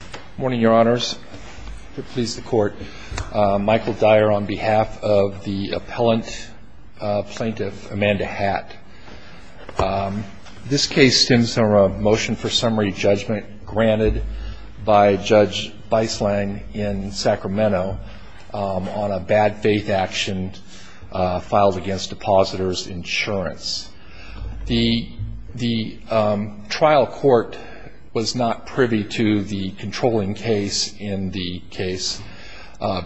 Good morning, Your Honors, Michael Dyer on behalf of the Appellant Plaintiff Amanda Hatt. This case stems from a motion for summary judgment granted by Judge Beislang in Sacramento on a bad faith action filed against Depositors Insurance. The trial court was not privy to the controlling case in the case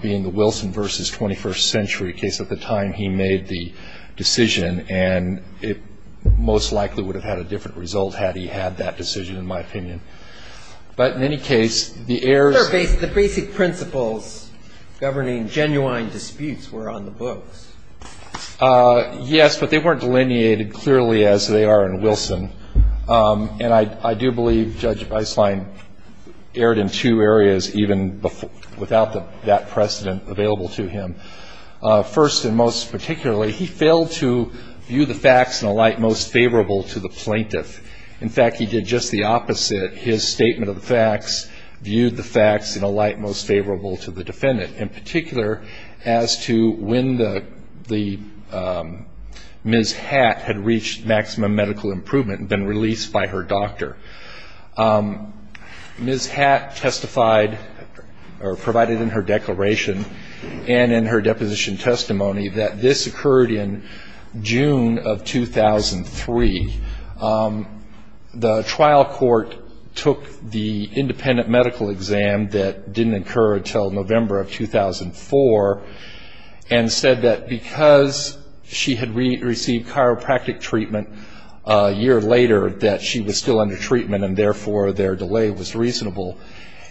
being the Wilson v. 21st Century, a case at the time he made the decision, and it most likely would have had a different result had he had that decision, in my opinion. But in any case, the heirs – The basic principles governing genuine disputes were on the books. Yes, but they weren't delineated clearly as they are in Wilson. And I do believe Judge Beislang erred in two areas even without that precedent available to him. First and most particularly, he failed to view the facts in a light most favorable to the plaintiff. In fact, he did just the opposite. His statement of the facts viewed the facts in a light most favorable to the defendant, in particular as to when Ms. Hatt had reached maximum medical improvement and been released by her doctor. Ms. Hatt testified or provided in her declaration and in her deposition testimony that this occurred in June of 2003. The trial court took the independent medical exam that didn't occur until November of 2004 and said that because she had received chiropractic treatment a year later that she was still under treatment and therefore their delay was reasonable.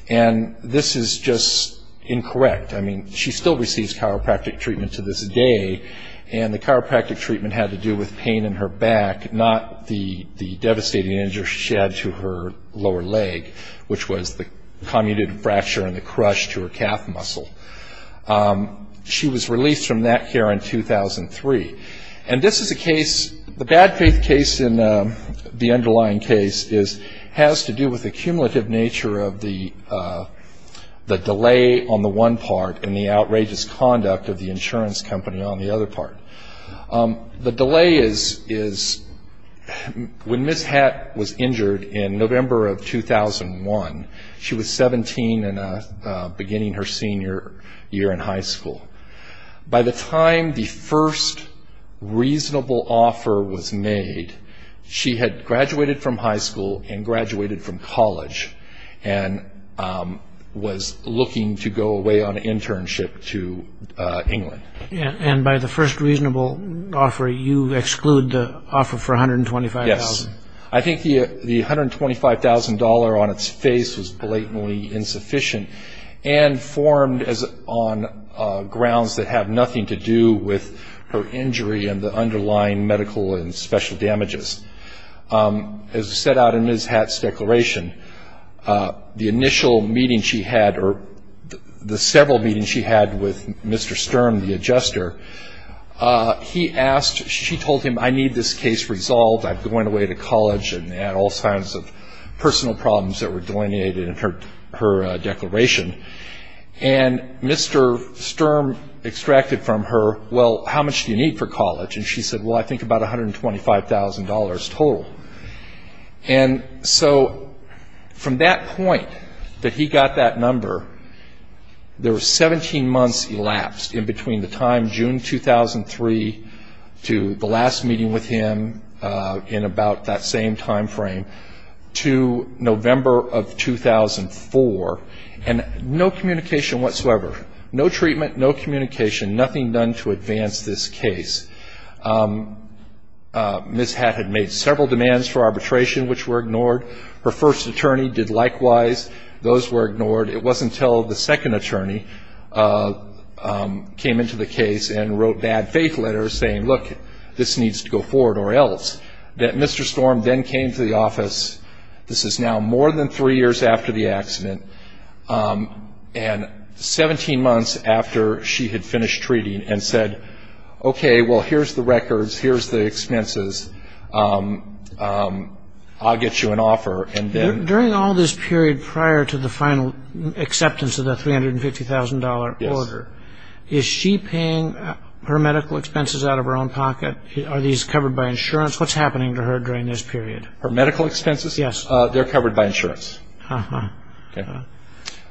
And this is just incorrect. I mean, she still receives chiropractic treatment to this day, and the chiropractic treatment had to do with pain in her back, not the devastating injury she had to her lower leg, which was the commutative fracture and the crush to her calf muscle. She was released from that care in 2003. And this is a case, the bad faith case in the underlying case has to do with the cumulative nature of the delay on the one part and the outrageous conduct of the insurance company on the other part. The delay is when Ms. Hatt was injured in November of 2001, she was 17 and beginning her senior year in high school. By the time the first reasonable offer was made, she had graduated from high school and graduated from college and was looking to go away on an internship to England. And by the first reasonable offer, you exclude the offer for $125,000? Yes. I think the $125,000 on its face was blatantly insufficient and formed on grounds that have nothing to do with her injury and the underlying medical and special damages. As set out in Ms. Hatt's declaration, the initial meeting she had or the several meetings she had with Mr. Sturm, the adjuster, he asked, she told him, I need this case resolved. I've gone away to college and had all kinds of personal problems that were delineated in her declaration. And Mr. Sturm extracted from her, well, how much do you need for college? And she said, well, I think about $125,000 total. And so from that point that he got that number, there were 17 months elapsed in between the time, June 2003, to the last meeting with him in about that same timeframe, to November of 2004, and no communication whatsoever. No treatment, no communication, nothing done to advance this case. Ms. Hatt had made several demands for arbitration, which were ignored. Her first attorney did likewise. Those were ignored. It wasn't until the second attorney came into the case and wrote bad faith letters saying, look, this needs to go forward or else, that Mr. Sturm then came to the office. This is now more than three years after the accident. And 17 months after she had finished treating and said, okay, well, here's the records, here's the expenses, I'll get you an offer. During all this period prior to the final acceptance of the $350,000 order, is she paying her medical expenses out of her own pocket? Are these covered by insurance? What's happening to her during this period? Her medical expenses? Yes. They're covered by insurance. Okay.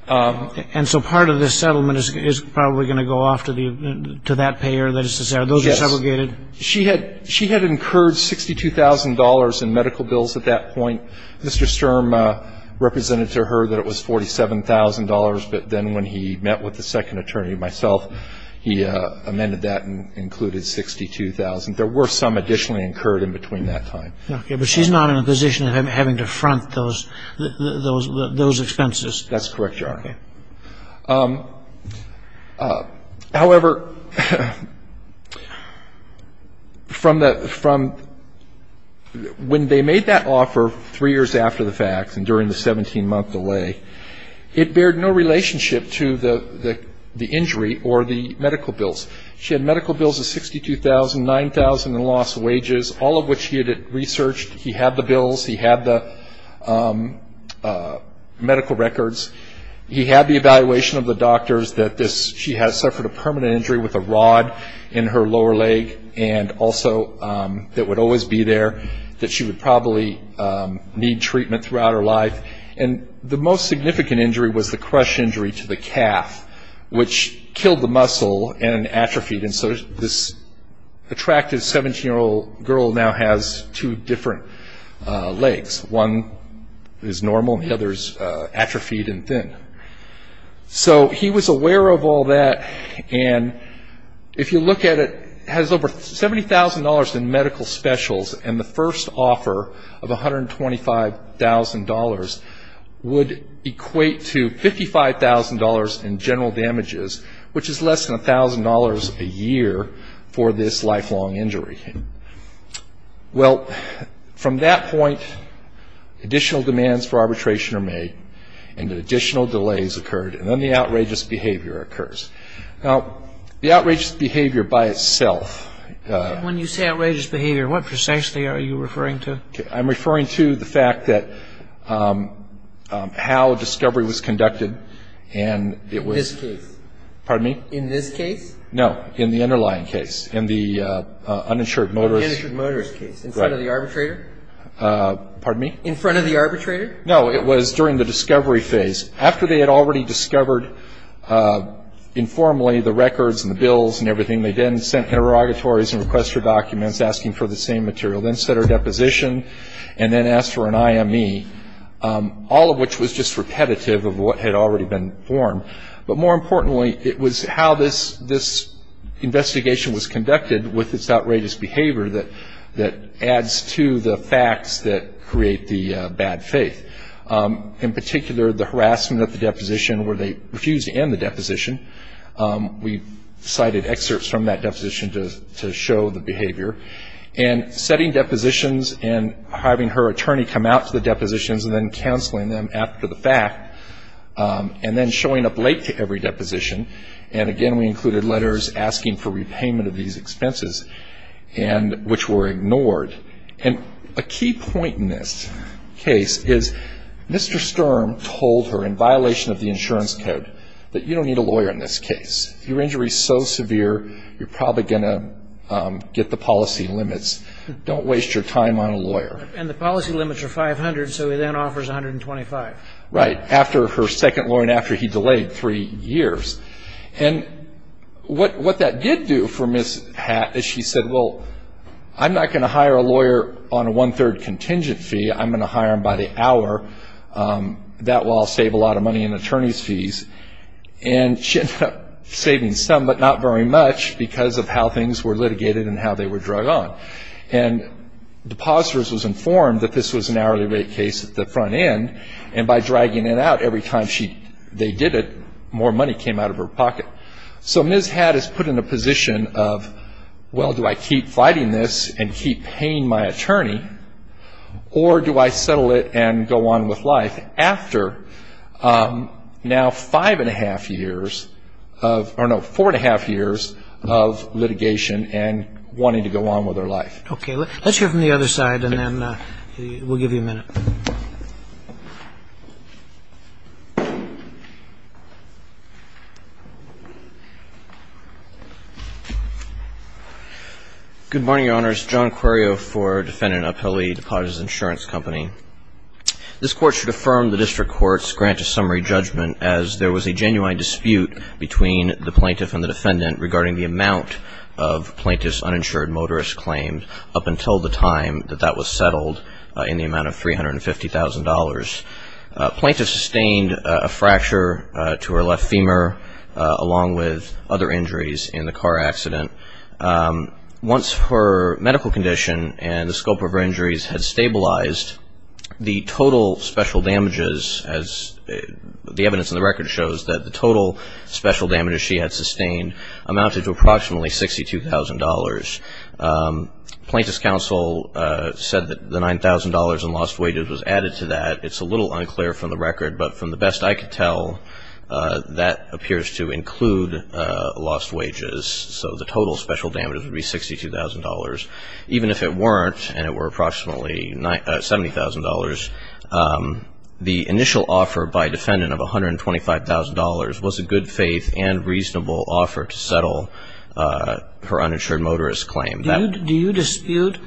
And so part of this settlement is probably going to go off to that payer, that is to say, are those segregated? Yes. She had incurred $62,000 in medical bills at that point. Mr. Sturm represented to her that it was $47,000. But then when he met with the second attorney, myself, he amended that and included $62,000. There were some additionally incurred in between that time. Okay. But she's not in a position of having to front those expenses. That's correct, Your Honor. Okay. However, when they made that offer three years after the fact and during the 17-month delay, it bared no relationship to the injury or the medical bills. She had medical bills of $62,000, $9,000 in lost wages, all of which she had researched. He had the bills. He had the medical records. He had the evaluation of the doctors that she had suffered a permanent injury with a rod in her lower leg and also that would always be there, that she would probably need treatment throughout her life. And the most significant injury was the crush injury to the calf, which killed the muscle and atrophied. And so this attractive 17-year-old girl now has two different legs. One is normal and the other is atrophied and thin. So he was aware of all that. And if you look at it, it has over $70,000 in medical specials, and the first offer of $125,000 would equate to $55,000 in general damages, which is less than $1,000 a year for this lifelong injury. Well, from that point, additional demands for arbitration are made and additional delays occurred and then the outrageous behavior occurs. Now, the outrageous behavior by itself. When you say outrageous behavior, what precisely are you referring to? I'm referring to the fact that how discovery was conducted and it was. In this case? Pardon me? In this case? No, in the underlying case, in the uninsured motorist. In the uninsured motorist case, in front of the arbitrator? Pardon me? In front of the arbitrator? No, it was during the discovery phase. After they had already discovered informally the records and the bills and everything, they then sent interrogatories and request for documents asking for the same material, then set a deposition, and then asked for an IME, all of which was just repetitive of what had already been formed. But more importantly, it was how this investigation was conducted with its outrageous behavior that adds to the facts that create the bad faith. In particular, the harassment at the deposition where they refused to end the deposition. We cited excerpts from that deposition to show the behavior. And setting depositions and having her attorney come out to the depositions and then counseling them after the fact, and then showing up late to every deposition, and again we included letters asking for repayment of these expenses, which were ignored. And a key point in this case is Mr. Sturm told her, in violation of the insurance code, that you don't need a lawyer in this case. Your injury is so severe, you're probably going to get the policy limits. Don't waste your time on a lawyer. And the policy limits are 500, so he then offers 125. Right. After her second lawyer and after he delayed three years. And what that did do for Ms. Hatt is she said, well, I'm not going to hire a lawyer on a one-third contingent fee. I'm going to hire him by the hour. That will all save a lot of money in attorney's fees. And she ended up saving some, but not very much, because of how things were litigated and how they were drug on. And depositors was informed that this was an hourly rate case at the front end, and by dragging it out every time they did it, more money came out of her pocket. So Ms. Hatt is put in a position of, well, do I keep fighting this and keep paying my attorney, or do I settle it and go on with life after now five-and-a-half years of, or no, four-and-a-half years of litigation and wanting to go on with her life. Okay. Let's hear from the other side, and then we'll give you a minute. Good morning, Your Honors. John Quirio for Defendant Appellee, Depositor's Insurance Company. This Court should affirm the District Court's grant of summary judgment as there was a genuine dispute between the plaintiff and the defendant regarding the amount of plaintiff's uninsured motorist claim up until the time that that was settled in the amount of $350,000. Plaintiff sustained a fracture to her left femur, along with other injuries in the car accident. Once her medical condition and the scope of her injuries had stabilized, the total special damages, as the evidence in the record shows, that the total special damages she had sustained amounted to approximately $62,000. Plaintiff's counsel said that the $9,000 in lost wages was added to that. It's a little unclear from the record, but from the best I could tell, that appears to include lost wages. So the total special damages would be $62,000, even if it weren't, and it were approximately $70,000. The initial offer by defendant of $125,000 was a good-faith and reasonable offer to settle her uninsured motorist claim. Do you dispute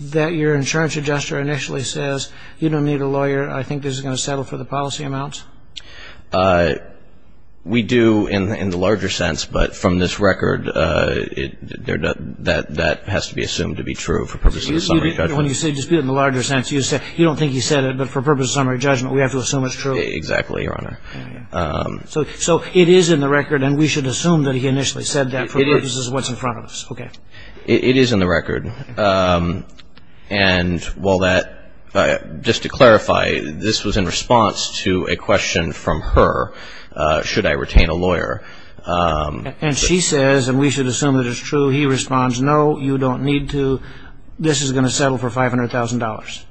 that your insurance adjuster initially says, you don't need a lawyer, I think this is going to settle for the policy amount? We do in the larger sense, but from this record, that has to be assumed to be true for purposes of summary judgment. When you say dispute in the larger sense, you don't think he said it, but for purposes of summary judgment, we have to assume it's true? Exactly, Your Honor. So it is in the record, and we should assume that he initially said that for purposes of what's in front of us. Okay. It is in the record. And while that, just to clarify, this was in response to a question from her, should I retain a lawyer. And she says, and we should assume that it's true, he responds, no, you don't need to. This is going to settle for $500,000.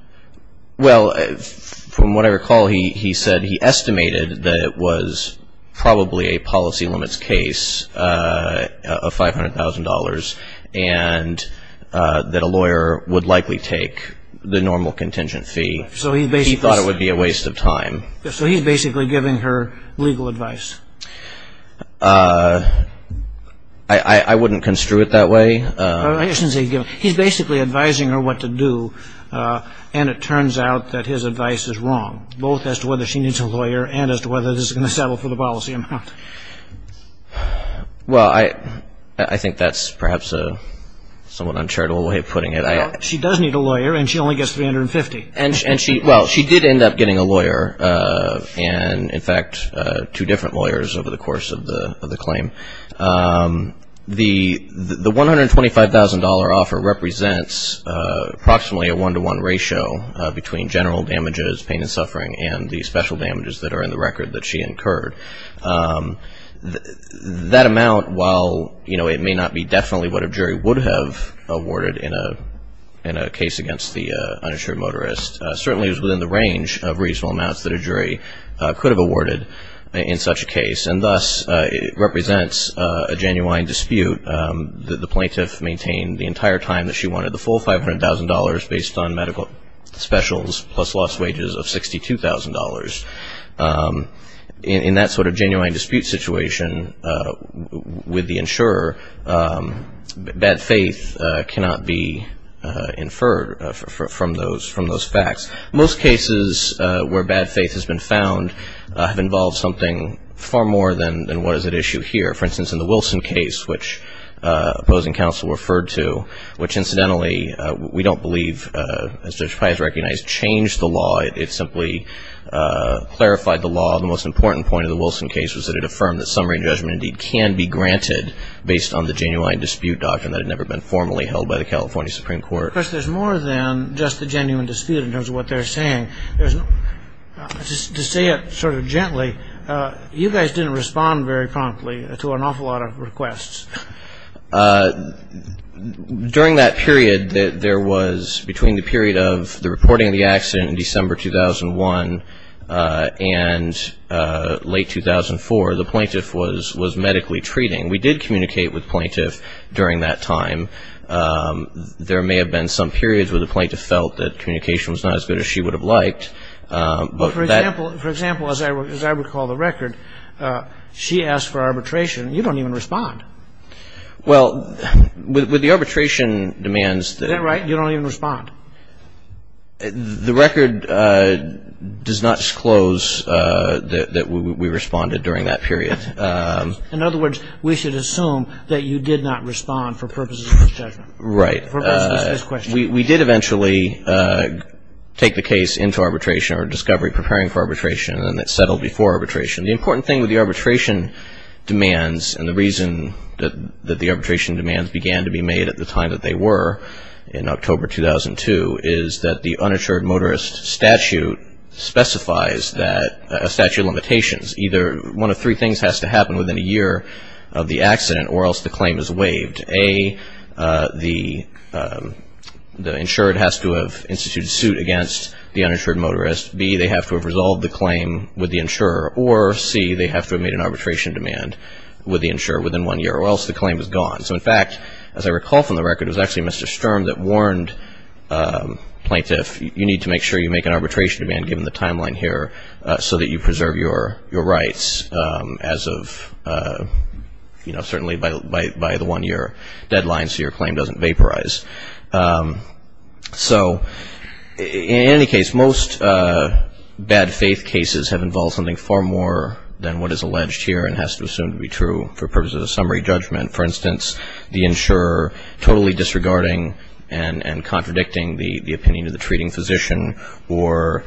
Well, from what I recall, he said he estimated that it was probably a policy limits case of $500,000 and that a lawyer would likely take the normal contingent fee. He thought it would be a waste of time. So he's basically giving her legal advice? I wouldn't construe it that way. He's basically advising her what to do, and it turns out that his advice is wrong, both as to whether she needs a lawyer and as to whether this is going to settle for the policy amount. Well, I think that's perhaps a somewhat uncharitable way of putting it. She does need a lawyer, and she only gets $350,000. Well, she did end up getting a lawyer, and, in fact, two different lawyers over the course of the claim. The $125,000 offer represents approximately a one-to-one ratio between general damages, pain and suffering, and the special damages that are in the record that she incurred. That amount, while it may not be definitely what a jury would have awarded in a case against the uninsured motorist, certainly is within the range of reasonable amounts that a jury could have awarded in such a case, and thus it represents a genuine dispute that the plaintiff maintained the entire time that she wanted the full $500,000 based on medical specials plus lost wages of $62,000. In that sort of genuine dispute situation with the insurer, bad faith cannot be inferred from those facts. Most cases where bad faith has been found have involved something far more than what is at issue here. For instance, in the Wilson case, which opposing counsel referred to, which, incidentally, we don't believe, as Judge Pius recognized, changed the law. It simply clarified the law. The most important point of the Wilson case was that it affirmed that summary and judgment indeed can be granted based on the genuine dispute doctrine that had never been formally held by the California Supreme Court. Because there's more than just the genuine dispute in terms of what they're saying. To say it sort of gently, you guys didn't respond very promptly to an awful lot of requests. During that period, there was, between the period of the reporting of the accident in December 2001 and late 2004, the plaintiff was medically treating. We did communicate with the plaintiff during that time. There may have been some periods where the plaintiff felt that communication was not as good as she would have liked. But that — For example, as I recall the record, she asked for arbitration. You don't even respond. Well, with the arbitration demands that — Is that right? You don't even respond. The record does not disclose that we responded during that period. In other words, we should assume that you did not respond for purposes of this judgment. Right. For purposes of this question. We did eventually take the case into arbitration or discovery, preparing for arbitration, and then it settled before arbitration. The important thing with the arbitration demands, and the reason that the arbitration demands began to be made at the time that they were in October 2002, is that the uninsured motorist statute specifies that — a statute of limitations. Either one of three things has to happen within a year of the accident or else the claim is waived. A, the insured has to have instituted suit against the uninsured motorist. B, they have to have resolved the claim with the insurer. Or C, they have to have made an arbitration demand with the insurer within one year or else the claim is gone. So in fact, as I recall from the record, it was actually Mr. Sturm that warned plaintiff, you need to make sure you make an arbitration demand given the timeline here so that you preserve your rights as of, you know, certainly by the one-year deadline so your claim doesn't vaporize. So in any case, most bad faith cases have involved something far more than what is alleged here and has to assume to be true for purposes of summary judgment. For instance, the insurer totally disregarding and contradicting the opinion of the treating physician or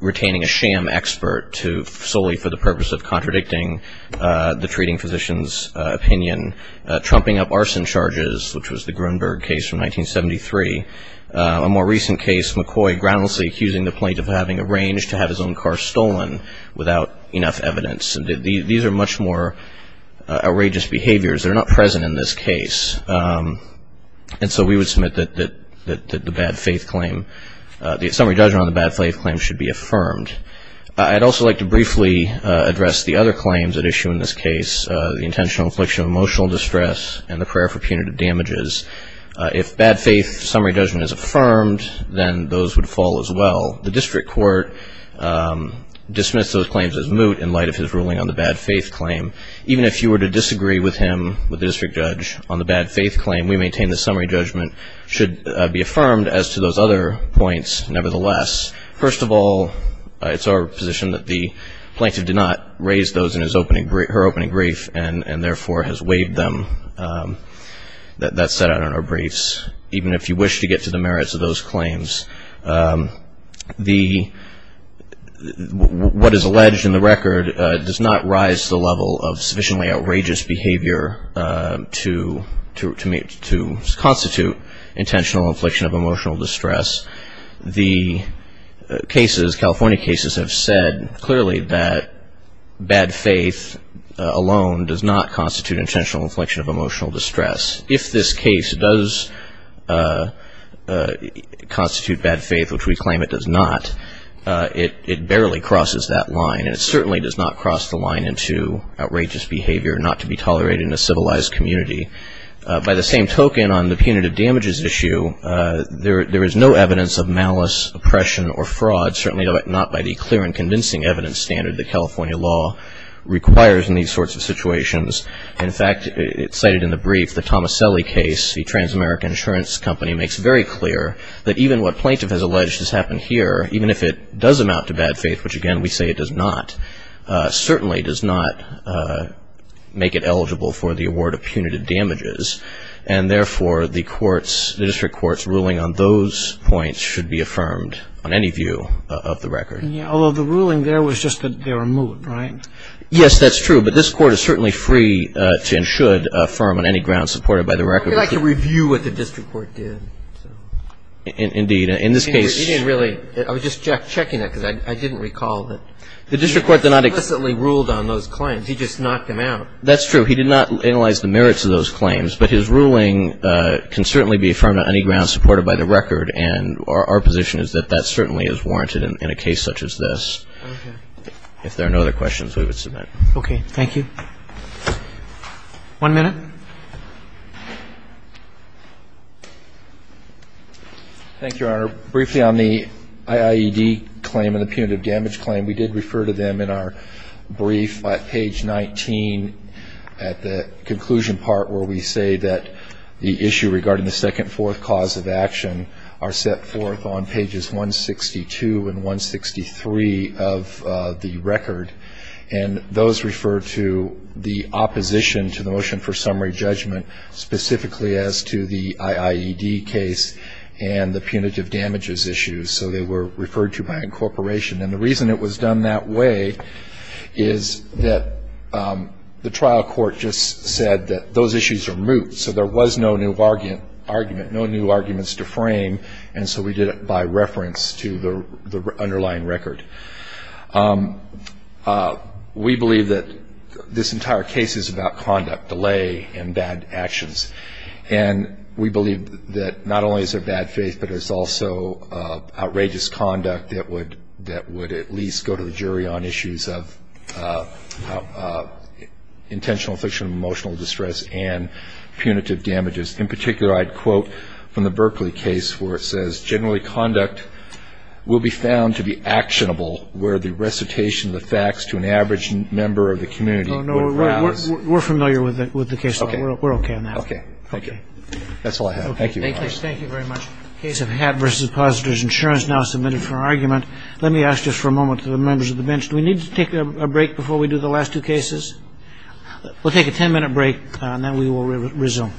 retaining a sham expert solely for the purpose of contradicting the treating physician's opinion, trumping up arson charges, which was the Grunberg case from 1973. A more recent case, McCoy groundlessly accusing the plaintiff of having arranged to have his own car stolen without enough evidence. These are much more outrageous behaviors. They're not present in this case. And so we would submit that the bad faith claim, the summary judgment on the bad faith claim should be affirmed. I'd also like to briefly address the other claims at issue in this case, the intentional infliction of emotional distress and the prayer for punitive damages. If bad faith summary judgment is affirmed, then those would fall as well. The district court dismissed those claims as moot in light of his ruling on the bad faith claim. Even if you were to disagree with him, with the district judge, on the bad faith claim, we maintain the summary judgment should be affirmed as to those other points nevertheless. First of all, it's our position that the plaintiff did not raise those in her opening brief and therefore has waived them, that's set out in our briefs. Even if you wish to get to the merits of those claims, what is alleged in the record does not rise to the level of sufficiently outrageous behavior to constitute intentional infliction of emotional distress. The cases, California cases, have said clearly that bad faith alone does not constitute intentional inflection of emotional distress. If this case does constitute bad faith, which we claim it does not, it barely crosses that line. And it certainly does not cross the line into outrageous behavior not to be tolerated in a civilized community. By the same token, on the punitive damages issue, there is no evidence of malice, oppression, or fraud, certainly not by the clear and convincing evidence standard that California law requires in these sorts of situations. In fact, cited in the brief, the Tomaselli case, the trans-American insurance company, makes very clear that even what plaintiff has alleged has happened here, even if it does amount to bad faith, which, again, we say it does not, certainly does not make it eligible for the award of punitive damages. And therefore, the court's, the district court's ruling on those points should be affirmed on any view of the record. Although the ruling there was just that they were moot, right? Yes, that's true. But this Court is certainly free to and should affirm on any ground supported by the record. We'd like to review what the district court did. Indeed. In this case. He didn't really. I was just checking it because I didn't recall that. The district court did not. He explicitly ruled on those claims. He just knocked them out. That's true. He did not analyze the merits of those claims. But his ruling can certainly be affirmed on any ground supported by the record. And our position is that that certainly is warranted in a case such as this. Okay. If there are no other questions, we would submit. Okay. Thank you. One minute. Thank you, Your Honor. Briefly on the IIED claim and the punitive damage claim, we did refer to them in our brief at page 19 at the conclusion part where we say that the issue regarding the second fourth cause of action are set forth on pages 162 and 163 of the record. And those refer to the opposition to the motion for summary judgment specifically as to the IIED case and the punitive damages issues. So they were referred to by incorporation. And the reason it was done that way is that the trial court just said that those issues are moot. So there was no new argument, no new arguments to frame. And so we did it by reference to the underlying record. We believe that this entire case is about conduct, delay, and bad actions. And we believe that not only is there bad faith, but there's also outrageous conduct that would at least go to the jury on issues of intentional affliction of emotional distress and punitive damages. In particular, I'd quote from the Berkeley case where it says, generally conduct will be found to be actionable where the recitation of the facts to an average member of the community would rise. Oh, no, we're familiar with the case. We're okay on that. Thank you. That's all I have. Thank you, Your Honor. Thank you very much. Case of Hatt v. Positor's Insurance now submitted for argument. Let me ask just for a moment to the members of the bench, do we need to take a break before we do the last two cases? We'll take a ten-minute break, and then we will resume.